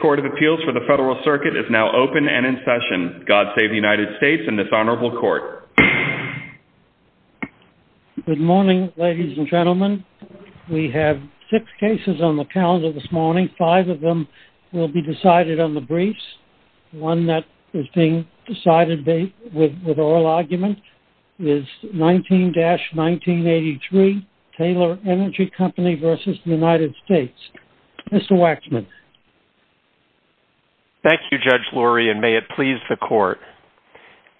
Court of Appeals for the Federal Circuit is now open and in session. God save the United States and this honorable court. Good morning, ladies and gentlemen. We have six cases on the calendar this morning. Five of them will be decided on the briefs. One that is being heard is Taylor Energy Company v. United States. Mr. Waxman. Thank you, Judge Lurie, and may it please the court.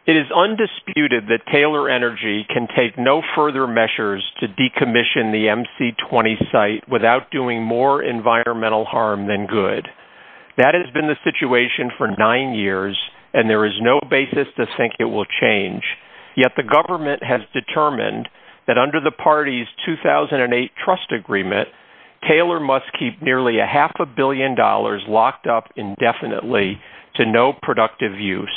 It is undisputed that Taylor Energy can take no further measures to decommission the MC-20 site without doing more environmental harm than good. That has been the situation for nine years and there is no basis to think it will change. Yet the party's 2008 trust agreement, Taylor must keep nearly a half a billion dollars locked up indefinitely to no productive use.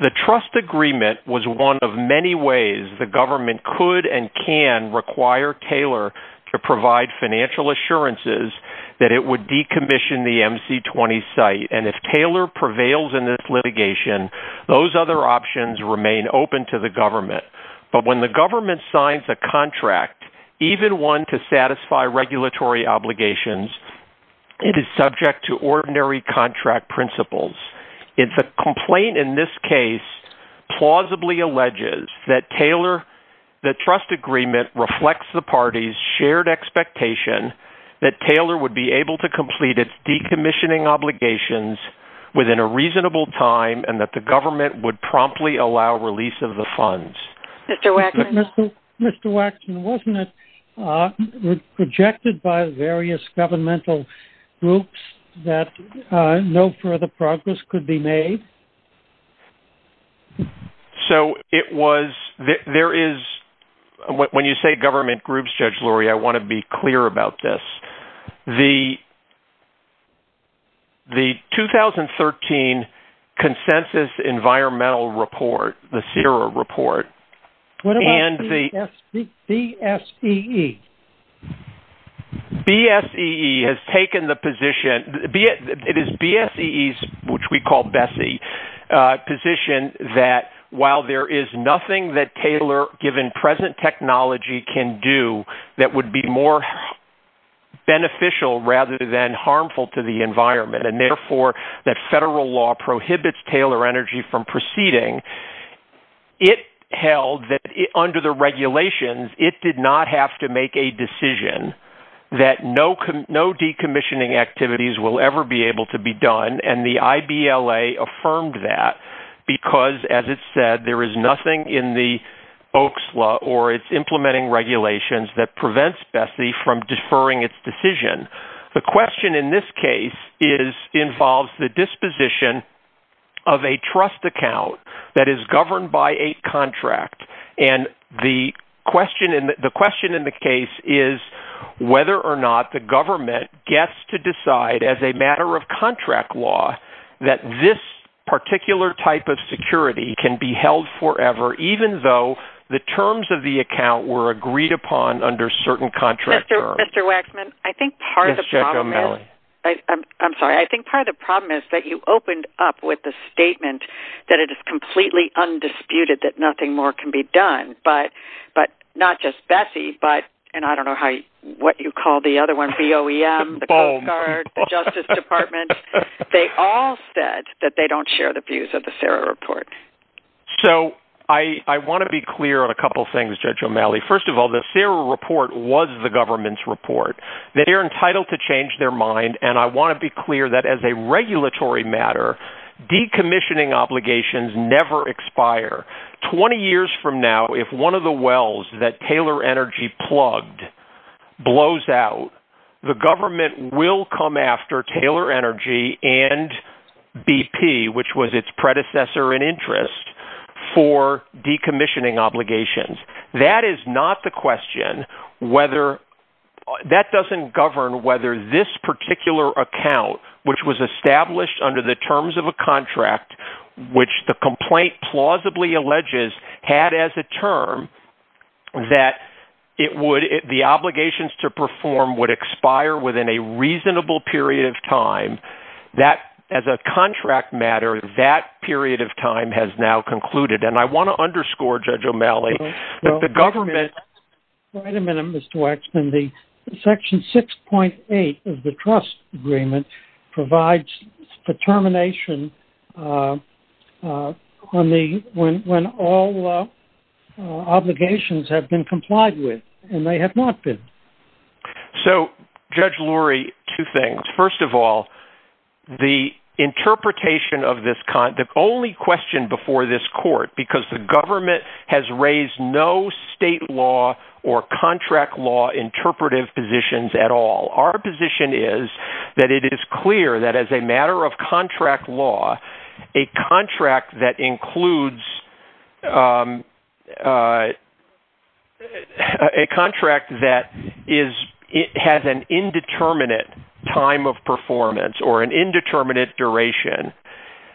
The trust agreement was one of many ways the government could and can require Taylor to provide financial assurances that it would decommission the MC-20 site. And if Taylor prevails in this litigation, those other options remain open to the government. But when the government signs a contract, even one to satisfy regulatory obligations, it is subject to ordinary contract principles. If a complaint in this case plausibly alleges that Taylor, the trust agreement reflects the party's shared expectation that Taylor would be able to complete its decommissioning obligations within a reasonable time and that the government would promptly allow release of the funds. Mr. Waxman, wasn't it projected by various governmental groups that no further progress could be made? So it was, there is, when you say government groups, Judge Laurie, I want to be clear about this. The 2013 Consensus Environmental Report, the CIRA report, and the- What about BSEE? BSEE has taken the position, it is BSEE's, which we call BSEE, position that while there is nothing that Taylor, given present technology, can do that would be more beneficial rather than harmful to the environment, and therefore that federal law prohibits Taylor Energy from proceeding, it held that under the regulations, it did not have to make a decision that no decommissioning activities will ever be able to be done. And the IBLA affirmed that because, as it said, there is nothing in the OAQS law or its implementing regulations that prevents BSEE from deferring its decision. The question in this case involves the disposition of a trust account that is governed by a contract, and the question in the case is whether or not the government gets to decide as a matter of contract law that this particular type of security can be held forever, even though the terms of the account were agreed upon under certain contract terms. Mr. Waxman, I think part of the problem is that you opened up with the statement that it is completely undisputed that nothing more can be done, but not just BSEE, but, and I don't know what you call the other one, BOEM, the Coast Guard, the Justice Department, they all said that they don't share the views of the CERA report. So I want to be clear on a couple things, Judge O'Malley. First of all, the CERA report was the government's report. They are entitled to change their mind, and I want to be clear that as a regulatory matter, decommissioning obligations never expire. Twenty years from now, if one of the wells that Taylor Energy plugged blows out, the government will come after Taylor Energy and BP, which was its predecessor in interest, for decommissioning obligations. That is not the question. That doesn't govern whether this particular account, which was established under the terms of a contract, which the complaint plausibly alleges had as a term, that the obligations to perform would expire within a reasonable period of time. That, as a contract matter, that period of time has now concluded, and I want to underscore, Judge O'Malley, that the government... Wait a minute, Mr. Waxman. Section 6.8 of the trust agreement provides determination when all obligations have been complied with, and they have not been. So, Judge Lurie, two things. First of all, the interpretation of this... The only question before this court, because the government has raised no state law or contract law interpretive positions at all, our position is that it is clear that as a matter of contract law, a contract that includes... A contract that includes a contract that includes a contract that has an indeterminate time of performance or an indeterminate duration,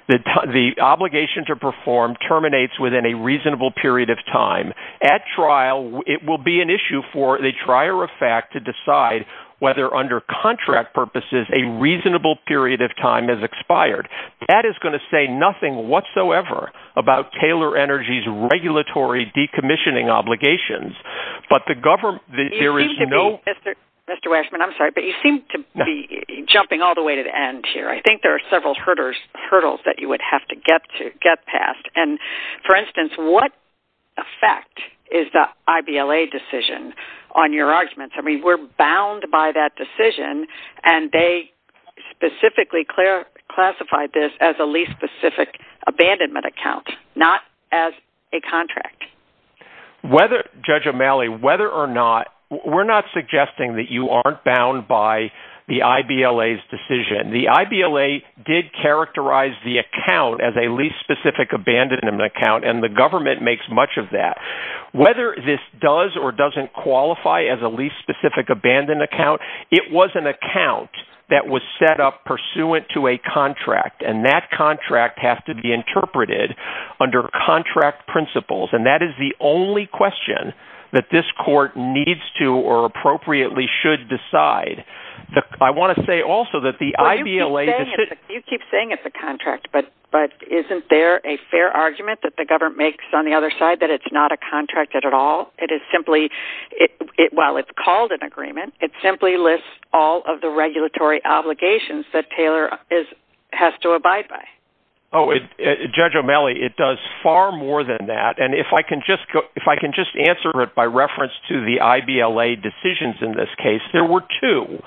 the obligation to perform terminates within a reasonable period of time. At trial, it will be an issue for the trier of fact to decide whether, under contract purposes, a reasonable period of time has expired. That is going to say nothing whatsoever about Taylor Energy's regulatory decommissioning obligations. But the government... There is no... Mr. Waxman, I'm sorry, but you seem to be jumping all the way to the end here. I think there are several hurdles that you would have to get past. And, for instance, what effect is the IBLA decision on your arguments? I mean, we're bound by that decision, and they specifically classified this as a lease-specific abandonment account, not as a contract. Whether, Judge O'Malley, whether or not... We're not suggesting that you aren't bound by the IBLA's decision. The IBLA did characterize the account as a lease-specific abandonment account, and the government makes much of that. Whether this does or doesn't qualify as a lease-specific abandonment account, it was an account that was set up pursuant to a contract, and that contract has to be interpreted under contract principles. And that is the only question that this court needs to or appropriately should decide. I want to say also that the IBLA... Well, you keep saying it's a contract, but isn't there a fair argument that the government makes on the other side that it's not a contract at all? It is simply... While it's called an agreement, it simply lists all of the regulatory obligations that Taylor has to abide by. Oh, Judge O'Malley, it does far more than that. And if I can just answer it by reference to the IBLA decisions in this case, there were two.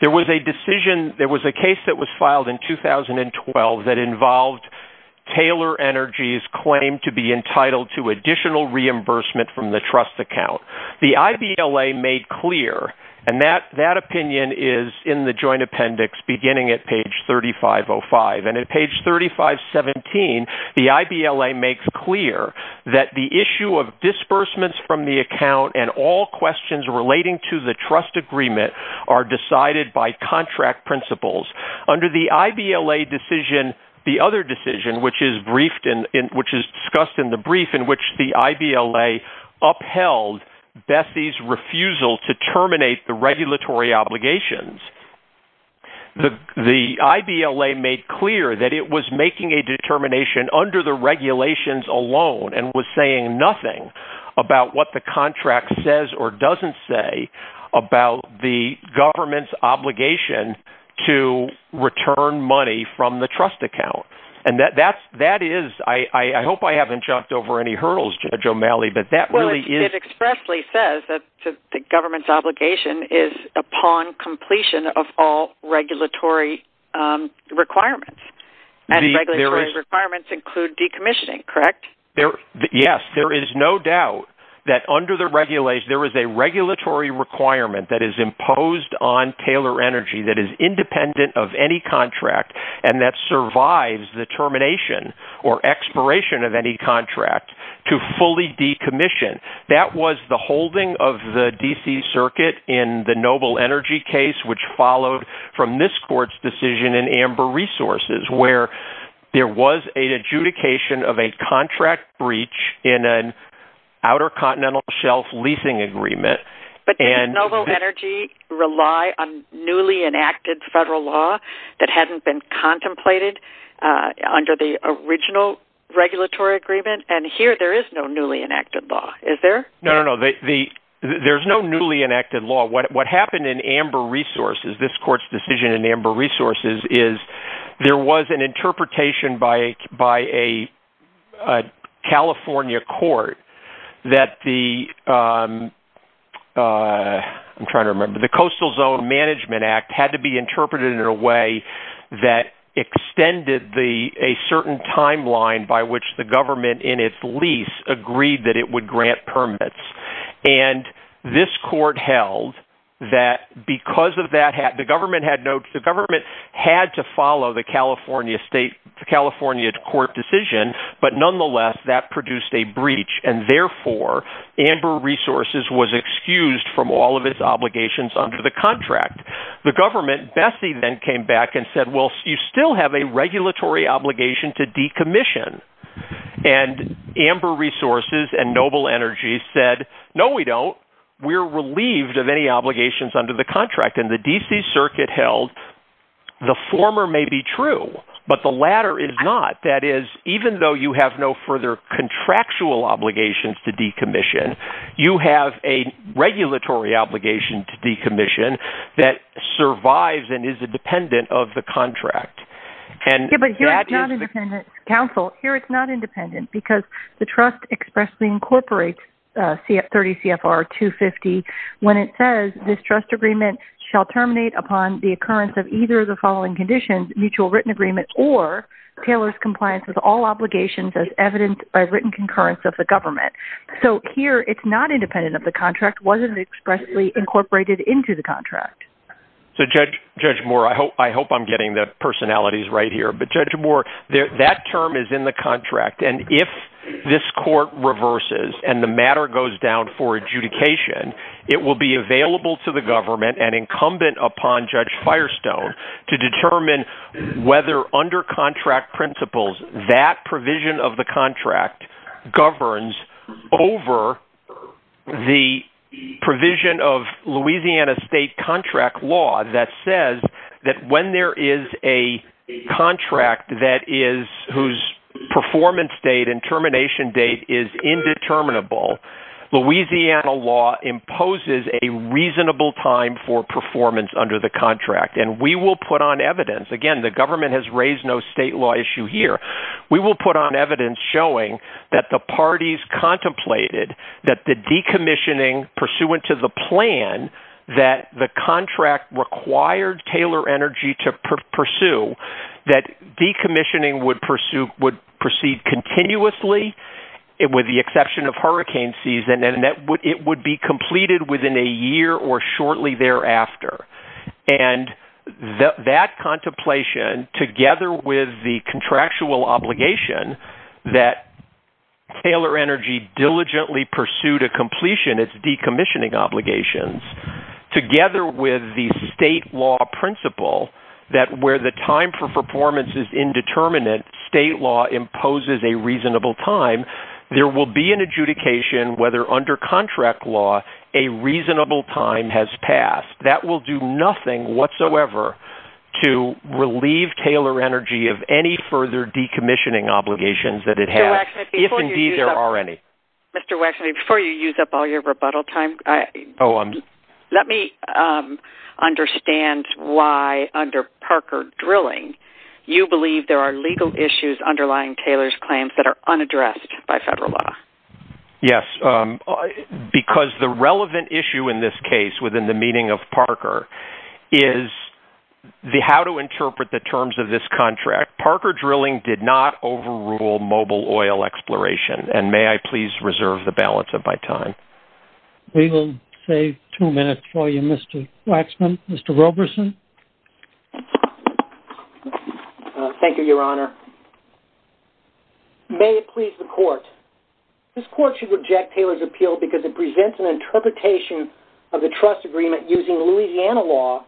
There was a decision... There was a case that was filed in 2012 that involved Taylor Energy's claim to be entitled to additional reimbursement from the trust account. The IBLA made clear, and that opinion is in the joint appendix beginning at page 3505. And at page 3517, the IBLA makes clear that the issue of disbursements from the account and all questions relating to the trust agreement are decided by contract principles. Under the IBLA decision, the other decision, which is discussed in the brief in which the IBLA upheld Bessie's refusal to terminate the regulatory obligations, the IBLA made clear that it was making a determination under the regulations alone and was saying nothing about what the contract says or doesn't say about the government's obligation to return money from the trust account. And that is... I hope I haven't jumped over any hurdles, Judge O'Malley, but that really is... Well, it expressly says that the government's obligation is upon completion of all regulatory requirements. And regulatory requirements include decommissioning, correct? Yes. There is no doubt that under the regulation... There is a regulatory requirement that is independent of any contract and that survives the termination or expiration of any contract to fully decommission. That was the holding of the D.C. Circuit in the Noble Energy case, which followed from this court's decision in Amber Resources, where there was an adjudication of a contract breach in an Outer Continental Shelf leasing agreement. But did Noble Energy rely on newly enacted federal law that hadn't been contemplated under the original regulatory agreement? And here there is no newly enacted law, is there? No, no, no. There's no newly enacted law. What happened in Amber Resources, this court's decision in Amber Resources, is there was an interpretation by a California court that the... I'm trying to remember. The Coastal Zone Management Act had to be interpreted in a way that extended a certain timeline by which the government, in its lease, agreed that it would grant permits. And this court held that because of that, the government had no... The government had to follow the California state... The California court decision, but nonetheless, that produced a breach. And therefore, Amber Resources was excused from all of its obligations under the contract. The government, Bessie, then came back and said, well, you still have a regulatory obligation to decommission. And Amber Resources and Noble Energy said, no, we don't. We're relieved of any obligations under the contract. And the D.C. Circuit held the former may be true, but the latter is not. That is, even though you have no further contractual obligations to decommission, you have a regulatory obligation to decommission that survives and is independent of the contract. Yeah, but here it's not independent. Counsel, here it's not independent because the trust expressly incorporates 30 CFR 250 when it says, this trust agreement shall terminate upon the occurrence of either of the following conditions, mutual written agreement or Taylor's compliance with all obligations as evident by written concurrence of the government. So here it's not independent of the contract, wasn't expressly incorporated into the contract. So Judge Moore, I hope I'm getting the personalities right here, but Judge Moore, that term is in the contract. And if this court reverses and the matter goes down for adjudication, it will be available to the government and incumbent upon Judge Firestone to determine whether under contract principles that provision of the contract governs over the provision of Louisiana state contract law that says that when there is a contract that is whose performance date and termination date is indeterminable, Louisiana law imposes a reasonable time for performance under the contract. And we will put on evidence, again, the government has raised no state law issue here. We will put on evidence showing that the parties contemplated that the decommissioning pursuant to the plan that the contract required Taylor Energy to pursue, that decommissioning would proceed continuously with the exception of hurricane season and it would be completed within a year or shortly thereafter. And that contemplation together with the contractual obligation that Taylor Energy diligently pursued a completion of decommissioning obligations together with the state law principle that where the time for performance is indeterminate, state law imposes a reasonable time, there will be an adjudication whether under contract law a reasonable time has passed. That will do nothing whatsoever to relieve Taylor Energy of any further decommissioning obligations that it has. Mr. Wexner, before you use up all your rebuttal time, let me understand why under Parker Drilling you believe there are legal issues underlying Taylor's claims that are unaddressed by federal law. Yes, because the relevant issue in this case within the meaning of Parker is the how to interpret the terms of this contract. Parker Drilling did not overrule mobile oil exploration and may I please reserve the balance of my time. We will save two minutes for you, Mr. Wexner. Mr. Roberson. Thank you, Your Honor. May it please the court, this court should reject Taylor's appeal because it presents an interpretation of the trust agreement using Louisiana law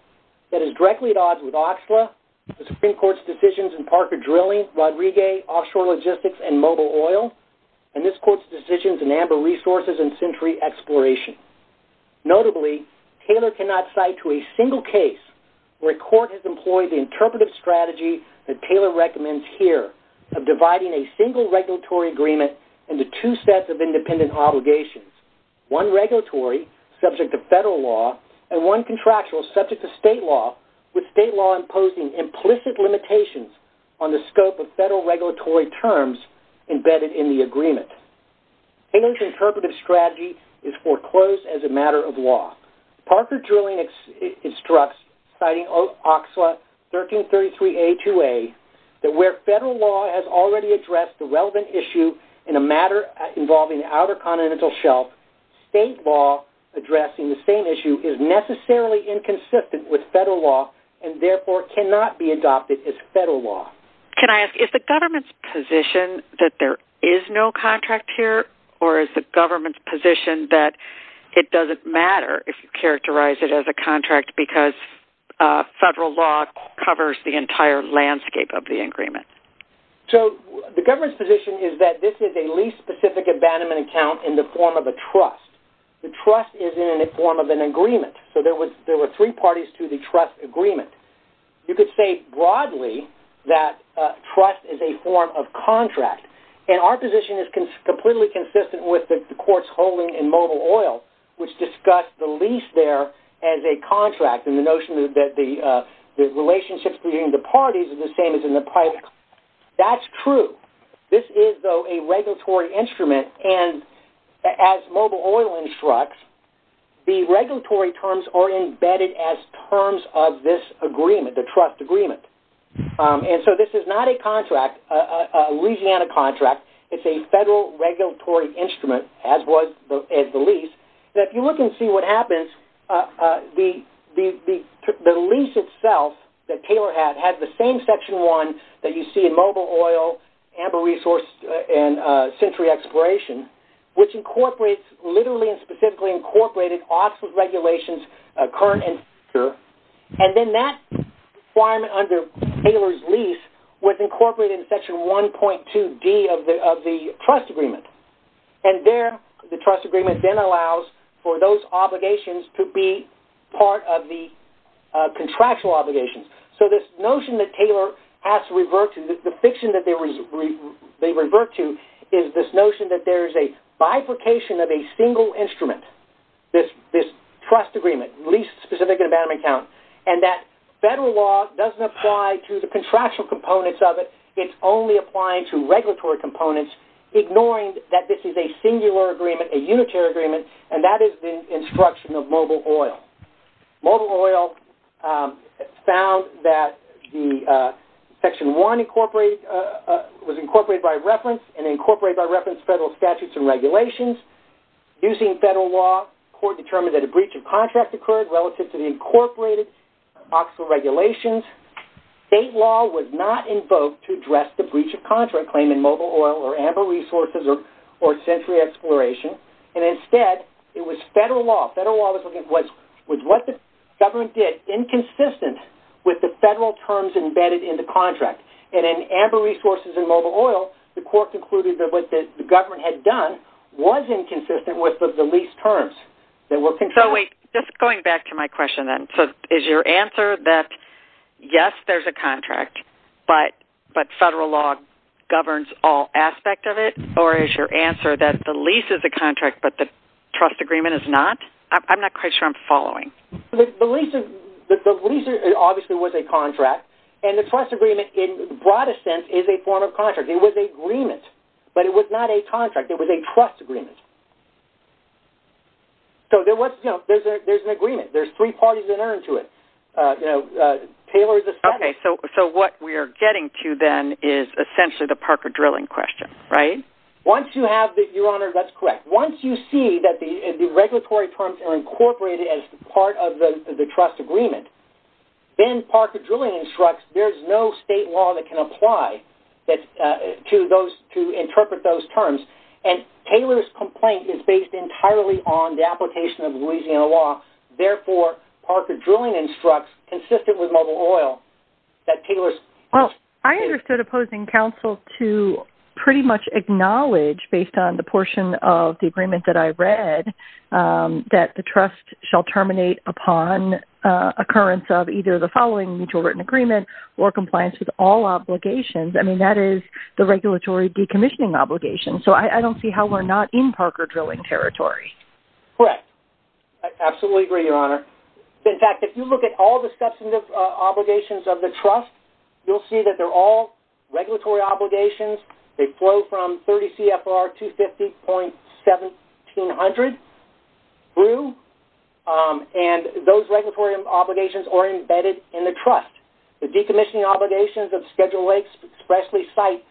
that is directly at odds with OXLA, the Supreme Court's decisions in Amber Resources and Century Exploration. Notably, Taylor cannot cite to a single case where a court has employed the interpretive strategy that Taylor recommends here of dividing a single regulatory agreement into two sets of independent obligations. One regulatory subject to federal law and one contractual subject to state law with state law imposing implicit limitations on the scope of federal regulatory terms embedded in the agreement. Taylor's interpretive strategy is foreclosed as a matter of law. Parker Drilling instructs, citing OXLA 1333A2A, that where federal law has already addressed the relevant issue in a matter involving the Outer Continental Shelf, state law addressing the same issue is necessarily inconsistent with federal law and therefore cannot be adopted as federal law. Can I ask, is the government's position that there is no contract here or is the government's position that it doesn't matter if you characterize it as a contract because federal law covers the entire landscape of the agreement? So the government's position is that this is a lease specific abandonment account in the form of a trust. The trust is in the form of an agreement. So there were three parties to the trust agreement. You could say broadly that trust is a form of contract. And our position is completely consistent with the court's holding in mobile oil, which discussed the lease there as a contract and the notion that the relationships between the parties are the same as in the pipe. That's true. This is, though, a regulatory instrument and as mobile oil instructs, the regulatory terms are embedded as terms of this agreement, the trust agreement. And so this is not a contract, a Louisiana contract. It's a federal regulatory instrument, as was the lease. If you look and see what happens, the lease itself that Taylor had, had the same section one that Amber resourced in Century Exploration, which incorporates, literally and specifically incorporated office regulations, current and future. And then that requirement under Taylor's lease was incorporated in section 1.2D of the trust agreement. And there, the trust agreement then allows for those obligations to be part of the contractual obligations. So this notion that Taylor has to revert to, the fiction that they revert to is this notion that there's a bifurcation of a single instrument, this trust agreement, lease specific in abandonment count, and that federal law doesn't apply to the contractual components of it. It's only applying to regulatory components, ignoring that this is a singular agreement, a unitary agreement, and that is the instruction of mobile oil. Mobile oil found that the section one incorporated, was incorporated by reference and incorporated by reference federal statutes and regulations. Using federal law, court determined that a breach of contract occurred relative to the incorporated office regulations. State law was not invoked to address the breach of contract claim in mobile oil or amber resources or century exploration. And instead, it was federal law. Federal law was what the government did, inconsistent with the federal terms embedded in the contract. And in amber resources and mobile oil, the court concluded that what the government had done was inconsistent with the lease terms that were concluded. So wait, just going back to my question then. So is your answer that yes, there's a contract, but federal law governs all aspects of it? Or is your answer that the lease is a contract, but the trust agreement is not? I'm not quite sure I'm following. The lease obviously was a contract, and the trust agreement in the broadest sense is a form of contract. It was an agreement, but it was not a contract. It was a trust agreement. So there's an agreement. There's three parties that are to it. Taylor is a second. Okay. So what we are getting to then is essentially the Parker drilling question, right? Once you have the... Your Honor, that's correct. Once you see that the regulatory terms are incorporated as part of the trust agreement, then Parker drilling instructs there's no state law that can apply to interpret those terms. And Taylor's complaint is based entirely on the application of Louisiana law. Therefore, Parker drilling instructs consistent with the level of oil that Taylor... Well, I understood opposing counsel to pretty much acknowledge based on the portion of the agreement that I read that the trust shall terminate upon occurrence of either the following mutual written agreement or compliance with all obligations. I mean, that is the regulatory decommissioning obligation. So I don't see how we're not in Parker drilling territory. Correct. I absolutely agree, Your Honor. In fact, if you look at all the substantive obligations of the trust, you'll see that they're all regulatory obligations. They flow from 30 CFR 250.1700 through. And those regulatory obligations are embedded in the trust. The decommissioning obligations of Schedule A expressly cite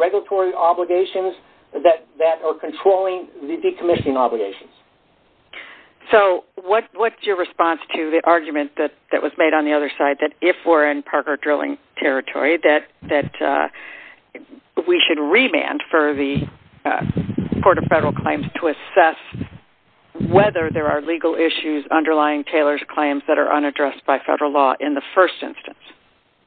regulatory obligations that are controlling the decommissioning obligations. So what's your response to the argument that was made on the other side that if we're in Parker drilling territory, that we should remand for the Court of Federal Claims to assess whether there are legal issues underlying Taylor's claims that are unaddressed by federal law in the first instance?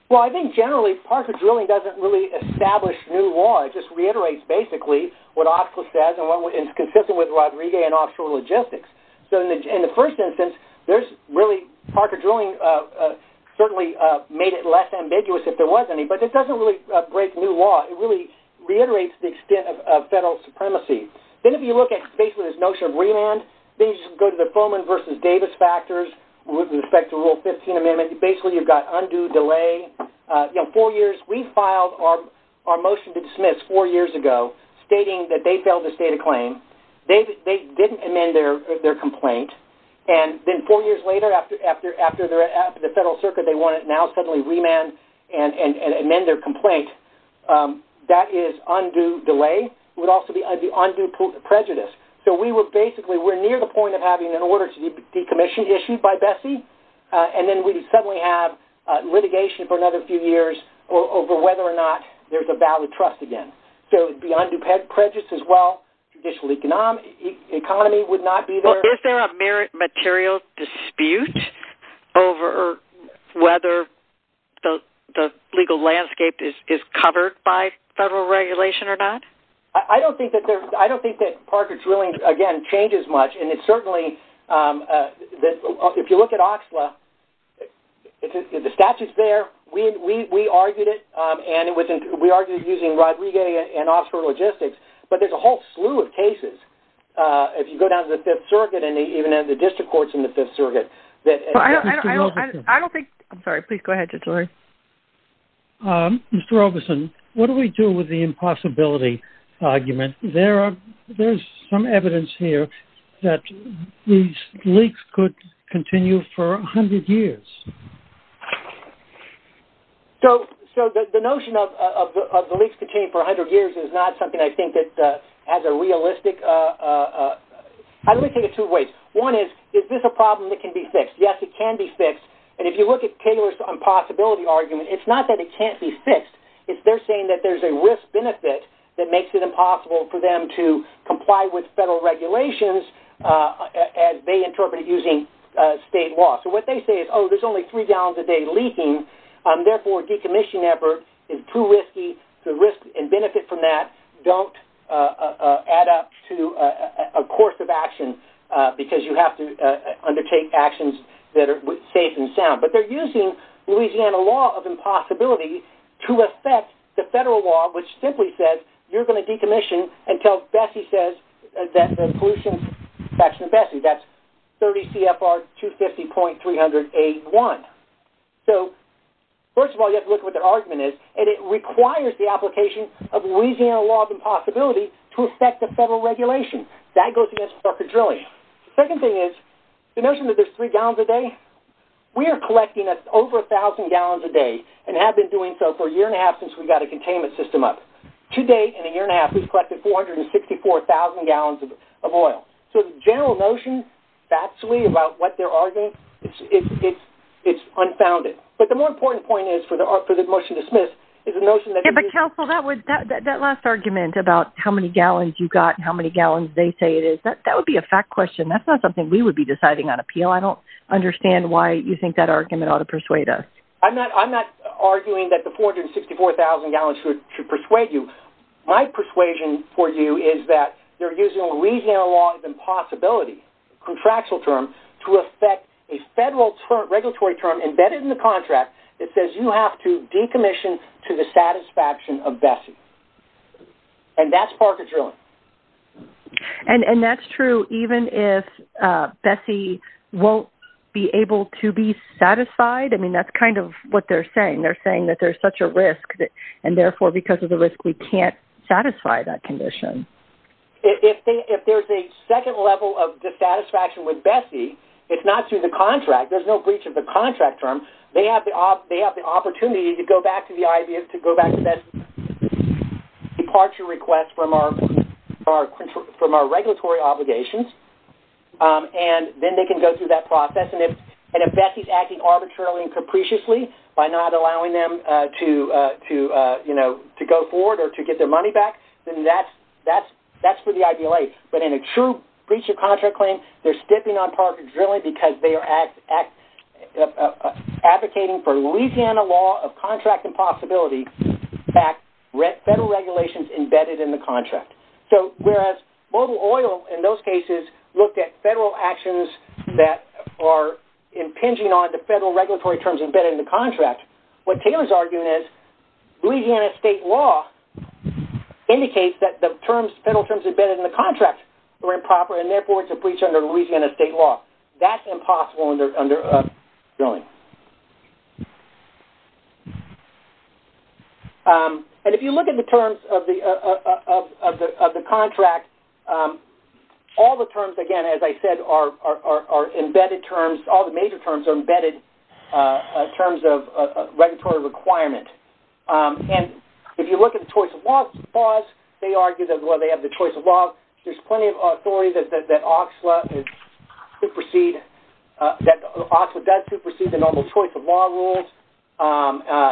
Well, I think generally Parker drilling doesn't really establish new law. It just reiterates basically what Ofsler says and what is consistent with Rodriguez and Offshore Logistics. So in the first instance, there's really Parker drilling certainly made it less ambiguous if there was any, but it doesn't really break new law. It really reiterates the extent of federal supremacy. Then if you look at basically this notion of remand, then you should go to the Fuhrman versus Davis factors with respect to Rule 15 Amendment. Basically, you've got undue delay, you know, four years. We filed our motion to dismiss four years ago stating that they failed to state a claim. They didn't amend their complaint, and then four years later after the Federal Circuit, they want to now suddenly remand and amend their complaint. That is undue delay. It would also be undue prejudice. So we were basically near the point of having an order to decommission issued by Bessie, and then we suddenly have litigation for another few years over whether or not there's a valid trust again. So it would be undue prejudice as well. Traditionally, the economy would not be there. Well, is there a merit material dispute over whether the legal landscape is covered by federal regulation or not? I don't think that Parker drilling, again, changes much, and it certainly... If you look at OXLA, the statute's there. We argued it, and we argued it using Rodriguez and Offshore Logistics, but there's a whole slew of cases. If you go down to the Fifth Circuit and even at the district courts in the Fifth Circuit that... I don't think... I'm sorry. Please go ahead, Judge Lurie. Mr. Robeson, what do we do with the impossibility argument? There's some evidence here that these leaks could continue for 100 years. So the notion of the leaks to continue for 100 years is not something I think that has a realistic... I would think of it two ways. One is, is this a problem that can be fixed? Yes, it can be fixed, and if you look at Taylor's impossibility argument, it's not that it can't be fixed. It's they're saying that there's a risk-benefit that makes it impossible for them to comply with federal regulations as they interpret it using state law. So what they say is, oh, there's only three gallons a day leaking, and therefore decommission effort is too risky. The risk and benefit from that don't add up to a course of action because you have to undertake actions that are safe and sound. But they're using Louisiana law of impossibility to affect the federal law, which simply says you're going to decommission until Bessie says that the pollution... Section of Bessie, that's 30 CFR 250.300A1. So first of all, you have to look at what their argument is, and it requires the application of Louisiana law of impossibility to affect the federal regulation. That goes against Parker Drilling. The second thing is, the notion that there's three gallons a day, we are collecting over 1,000 gallons a day and have been doing so for a year and a half since we got a containment system up. To date, in a year and a half, we've collected 464,000 gallons of oil. So the general notion, factually, about what they're arguing, it's unfounded. But the more important point is, for the motion to dismiss, is the notion that... Yeah, but counsel, that last argument about how many gallons you got and how many gallons they say it is, that would be a fact question. That's not something we would be deciding on appeal. I don't understand why you think that argument ought to persuade us. I'm not arguing that the 464,000 gallons should persuade you. My persuasion for you is that they're using Louisiana law of impossibility, contractual term, to affect a federal regulatory term embedded in the contract that says you have to decommission to the satisfaction of Bessie. And that's Parker Drilling. And that's true even if Bessie won't be able to be satisfied? I mean, that's kind of what they're saying. They're saying that there's such a risk, and therefore, because of the risk, we can't satisfy that condition. If there's a second level of dissatisfaction with Bessie, it's not through the contract. There's no breach of the contract term. They have the opportunity to go back to the idea, to go back to Bessie's departure request from our regulatory obligations. And then they can go through that process. And if Bessie's acting arbitrarily and capriciously by not allowing them to go forward or to get their money back, then that's for the IPLA. But in a true breach of contract claim, they're stepping on Parker Drilling because they are advocating for Louisiana law of contract impossibility. In fact, federal regulations embedded in the contract. So whereas Mobil Oil, in those cases, looked at federal actions that are impinging on the federal regulatory terms embedded in the contract, what Taylor's arguing is Louisiana state law indicates that the terms, federal terms embedded in the contract were improper, and therefore, it's a breach under Louisiana state law. That's impossible under drilling. And if you look at the terms of the contract, all the terms, again, as I said, are embedded terms. All the major terms are embedded terms of regulatory requirement. And if you look at the choice of laws, they argue that while they have the choice of law, there's plenty of authority that OXLA supersede, that OXLA does supersede the normal choice of law rules.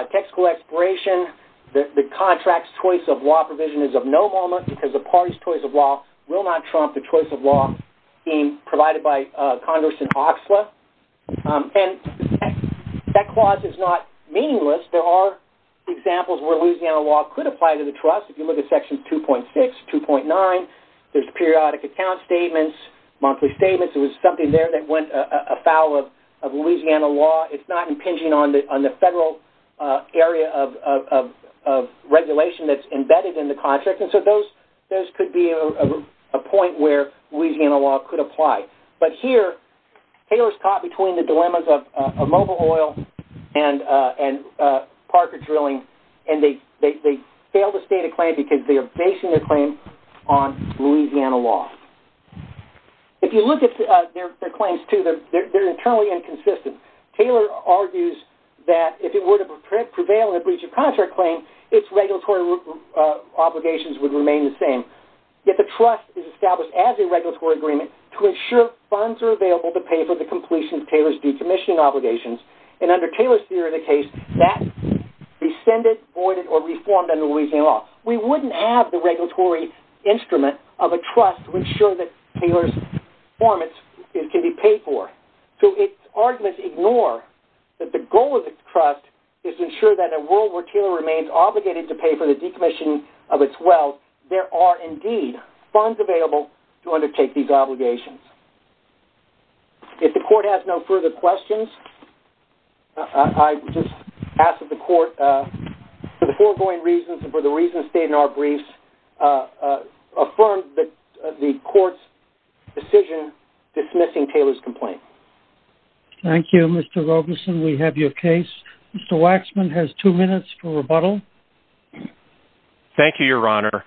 Taxable expiration, the contract's choice of law provision is of no moment because the party's choice of law will not trump the choice of law being provided by Congress and OXLA. And that clause is not meaningless. There are examples where Louisiana law could apply to the trust. If you look at Section 2.6, 2.9, there's periodic account statements, monthly statements. There was something there that went afoul of Louisiana law. It's not impinging on the federal area of regulation that's embedded in the contract. And so those could be a point where Louisiana law could apply. But here, Taylor's caught between the dilemmas of Mobil Oil and Parker Drilling, and they fail to state a claim because they are basing their claim on Louisiana law. If you look at their claims, too, they're internally inconsistent. Taylor argues that if it were to prevail in a breach of contract claim, its regulatory obligations would remain the same. Yet the trust is established as a regulatory agreement to ensure funds are available to pay for the completion of Taylor's decommissioning obligations. And under Taylor's theory of the case, that rescinded, voided, or reformed under Louisiana law. We wouldn't have the regulatory instrument of a trust to ensure that Taylor's performance can be paid for. So its arguments ignore that the goal of the trust is to ensure that in a world where Taylor remains obligated to pay for the decommissioning of its wealth, there are indeed funds available to undertake these obligations. If the court has no further questions, I just ask that the court, for the foregoing reasons and for the reasons stated in our briefs, affirm the court's decision dismissing Taylor's complaint. Thank you, Mr. Rogerson. We have your case. Mr. Waxman has two minutes for rebuttal. Thank you, Your Honor.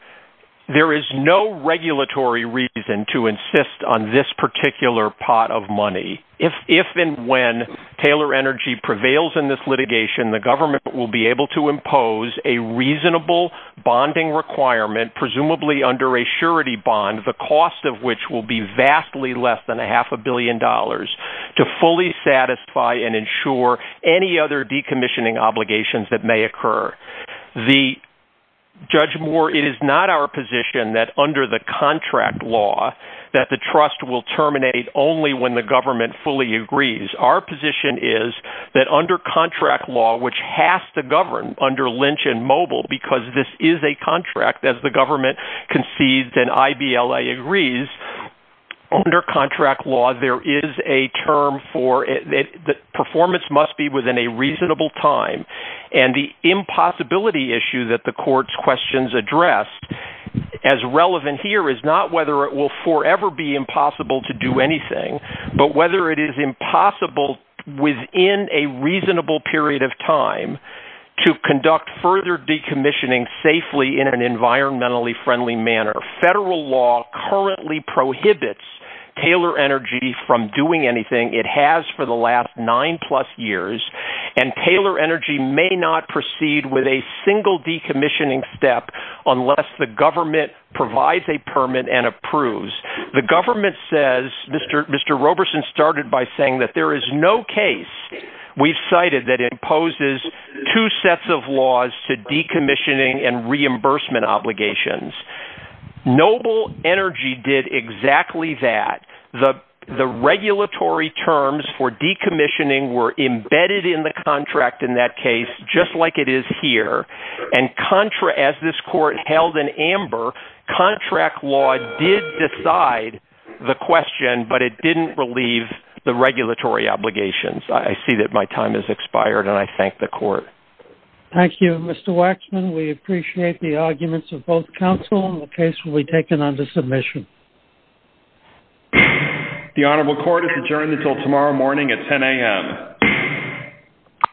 There is no regulatory reason to insist on this particular pot of money. If and when Taylor Energy prevails in this litigation, the government will be able to impose a reasonable bonding requirement, presumably under a surety bond, the cost of which will be vastly less than a half a billion dollars, to fully satisfy and ensure any other Judge Moore, it is not our position that under the contract law that the trust will terminate only when the government fully agrees. Our position is that under contract law, which has to govern under Lynch and Mobil, because this is a contract as the government concedes and I.B.L.A. agrees, under contract law there is a term for it that performance must be within a reasonable time and the impossibility issue that the court's questions address as relevant here is not whether it will forever be impossible to do anything, but whether it is impossible within a reasonable period of time to conduct further decommissioning safely in an environmentally friendly manner. Federal law currently prohibits Taylor Energy from doing anything, it has for the last nine plus years, and Taylor Energy may not proceed with a single decommissioning step unless the government provides a permit and approves. The government says, Mr. Roberson started by saying that there is no case we've cited that imposes two sets of laws to decommissioning and reimbursement obligations. Noble Energy did exactly that. The regulatory terms for decommissioning were embedded in the contract in that case, just like it is here, and as this court held in amber, contract law did decide the question, but it didn't relieve the regulatory obligations. I see that my time has expired and I thank the court. Thank you. Mr. Waxman, we appreciate the arguments of both counsel and the case will be taken under submission. The Honorable Court is adjourned until tomorrow morning at 10 a.m.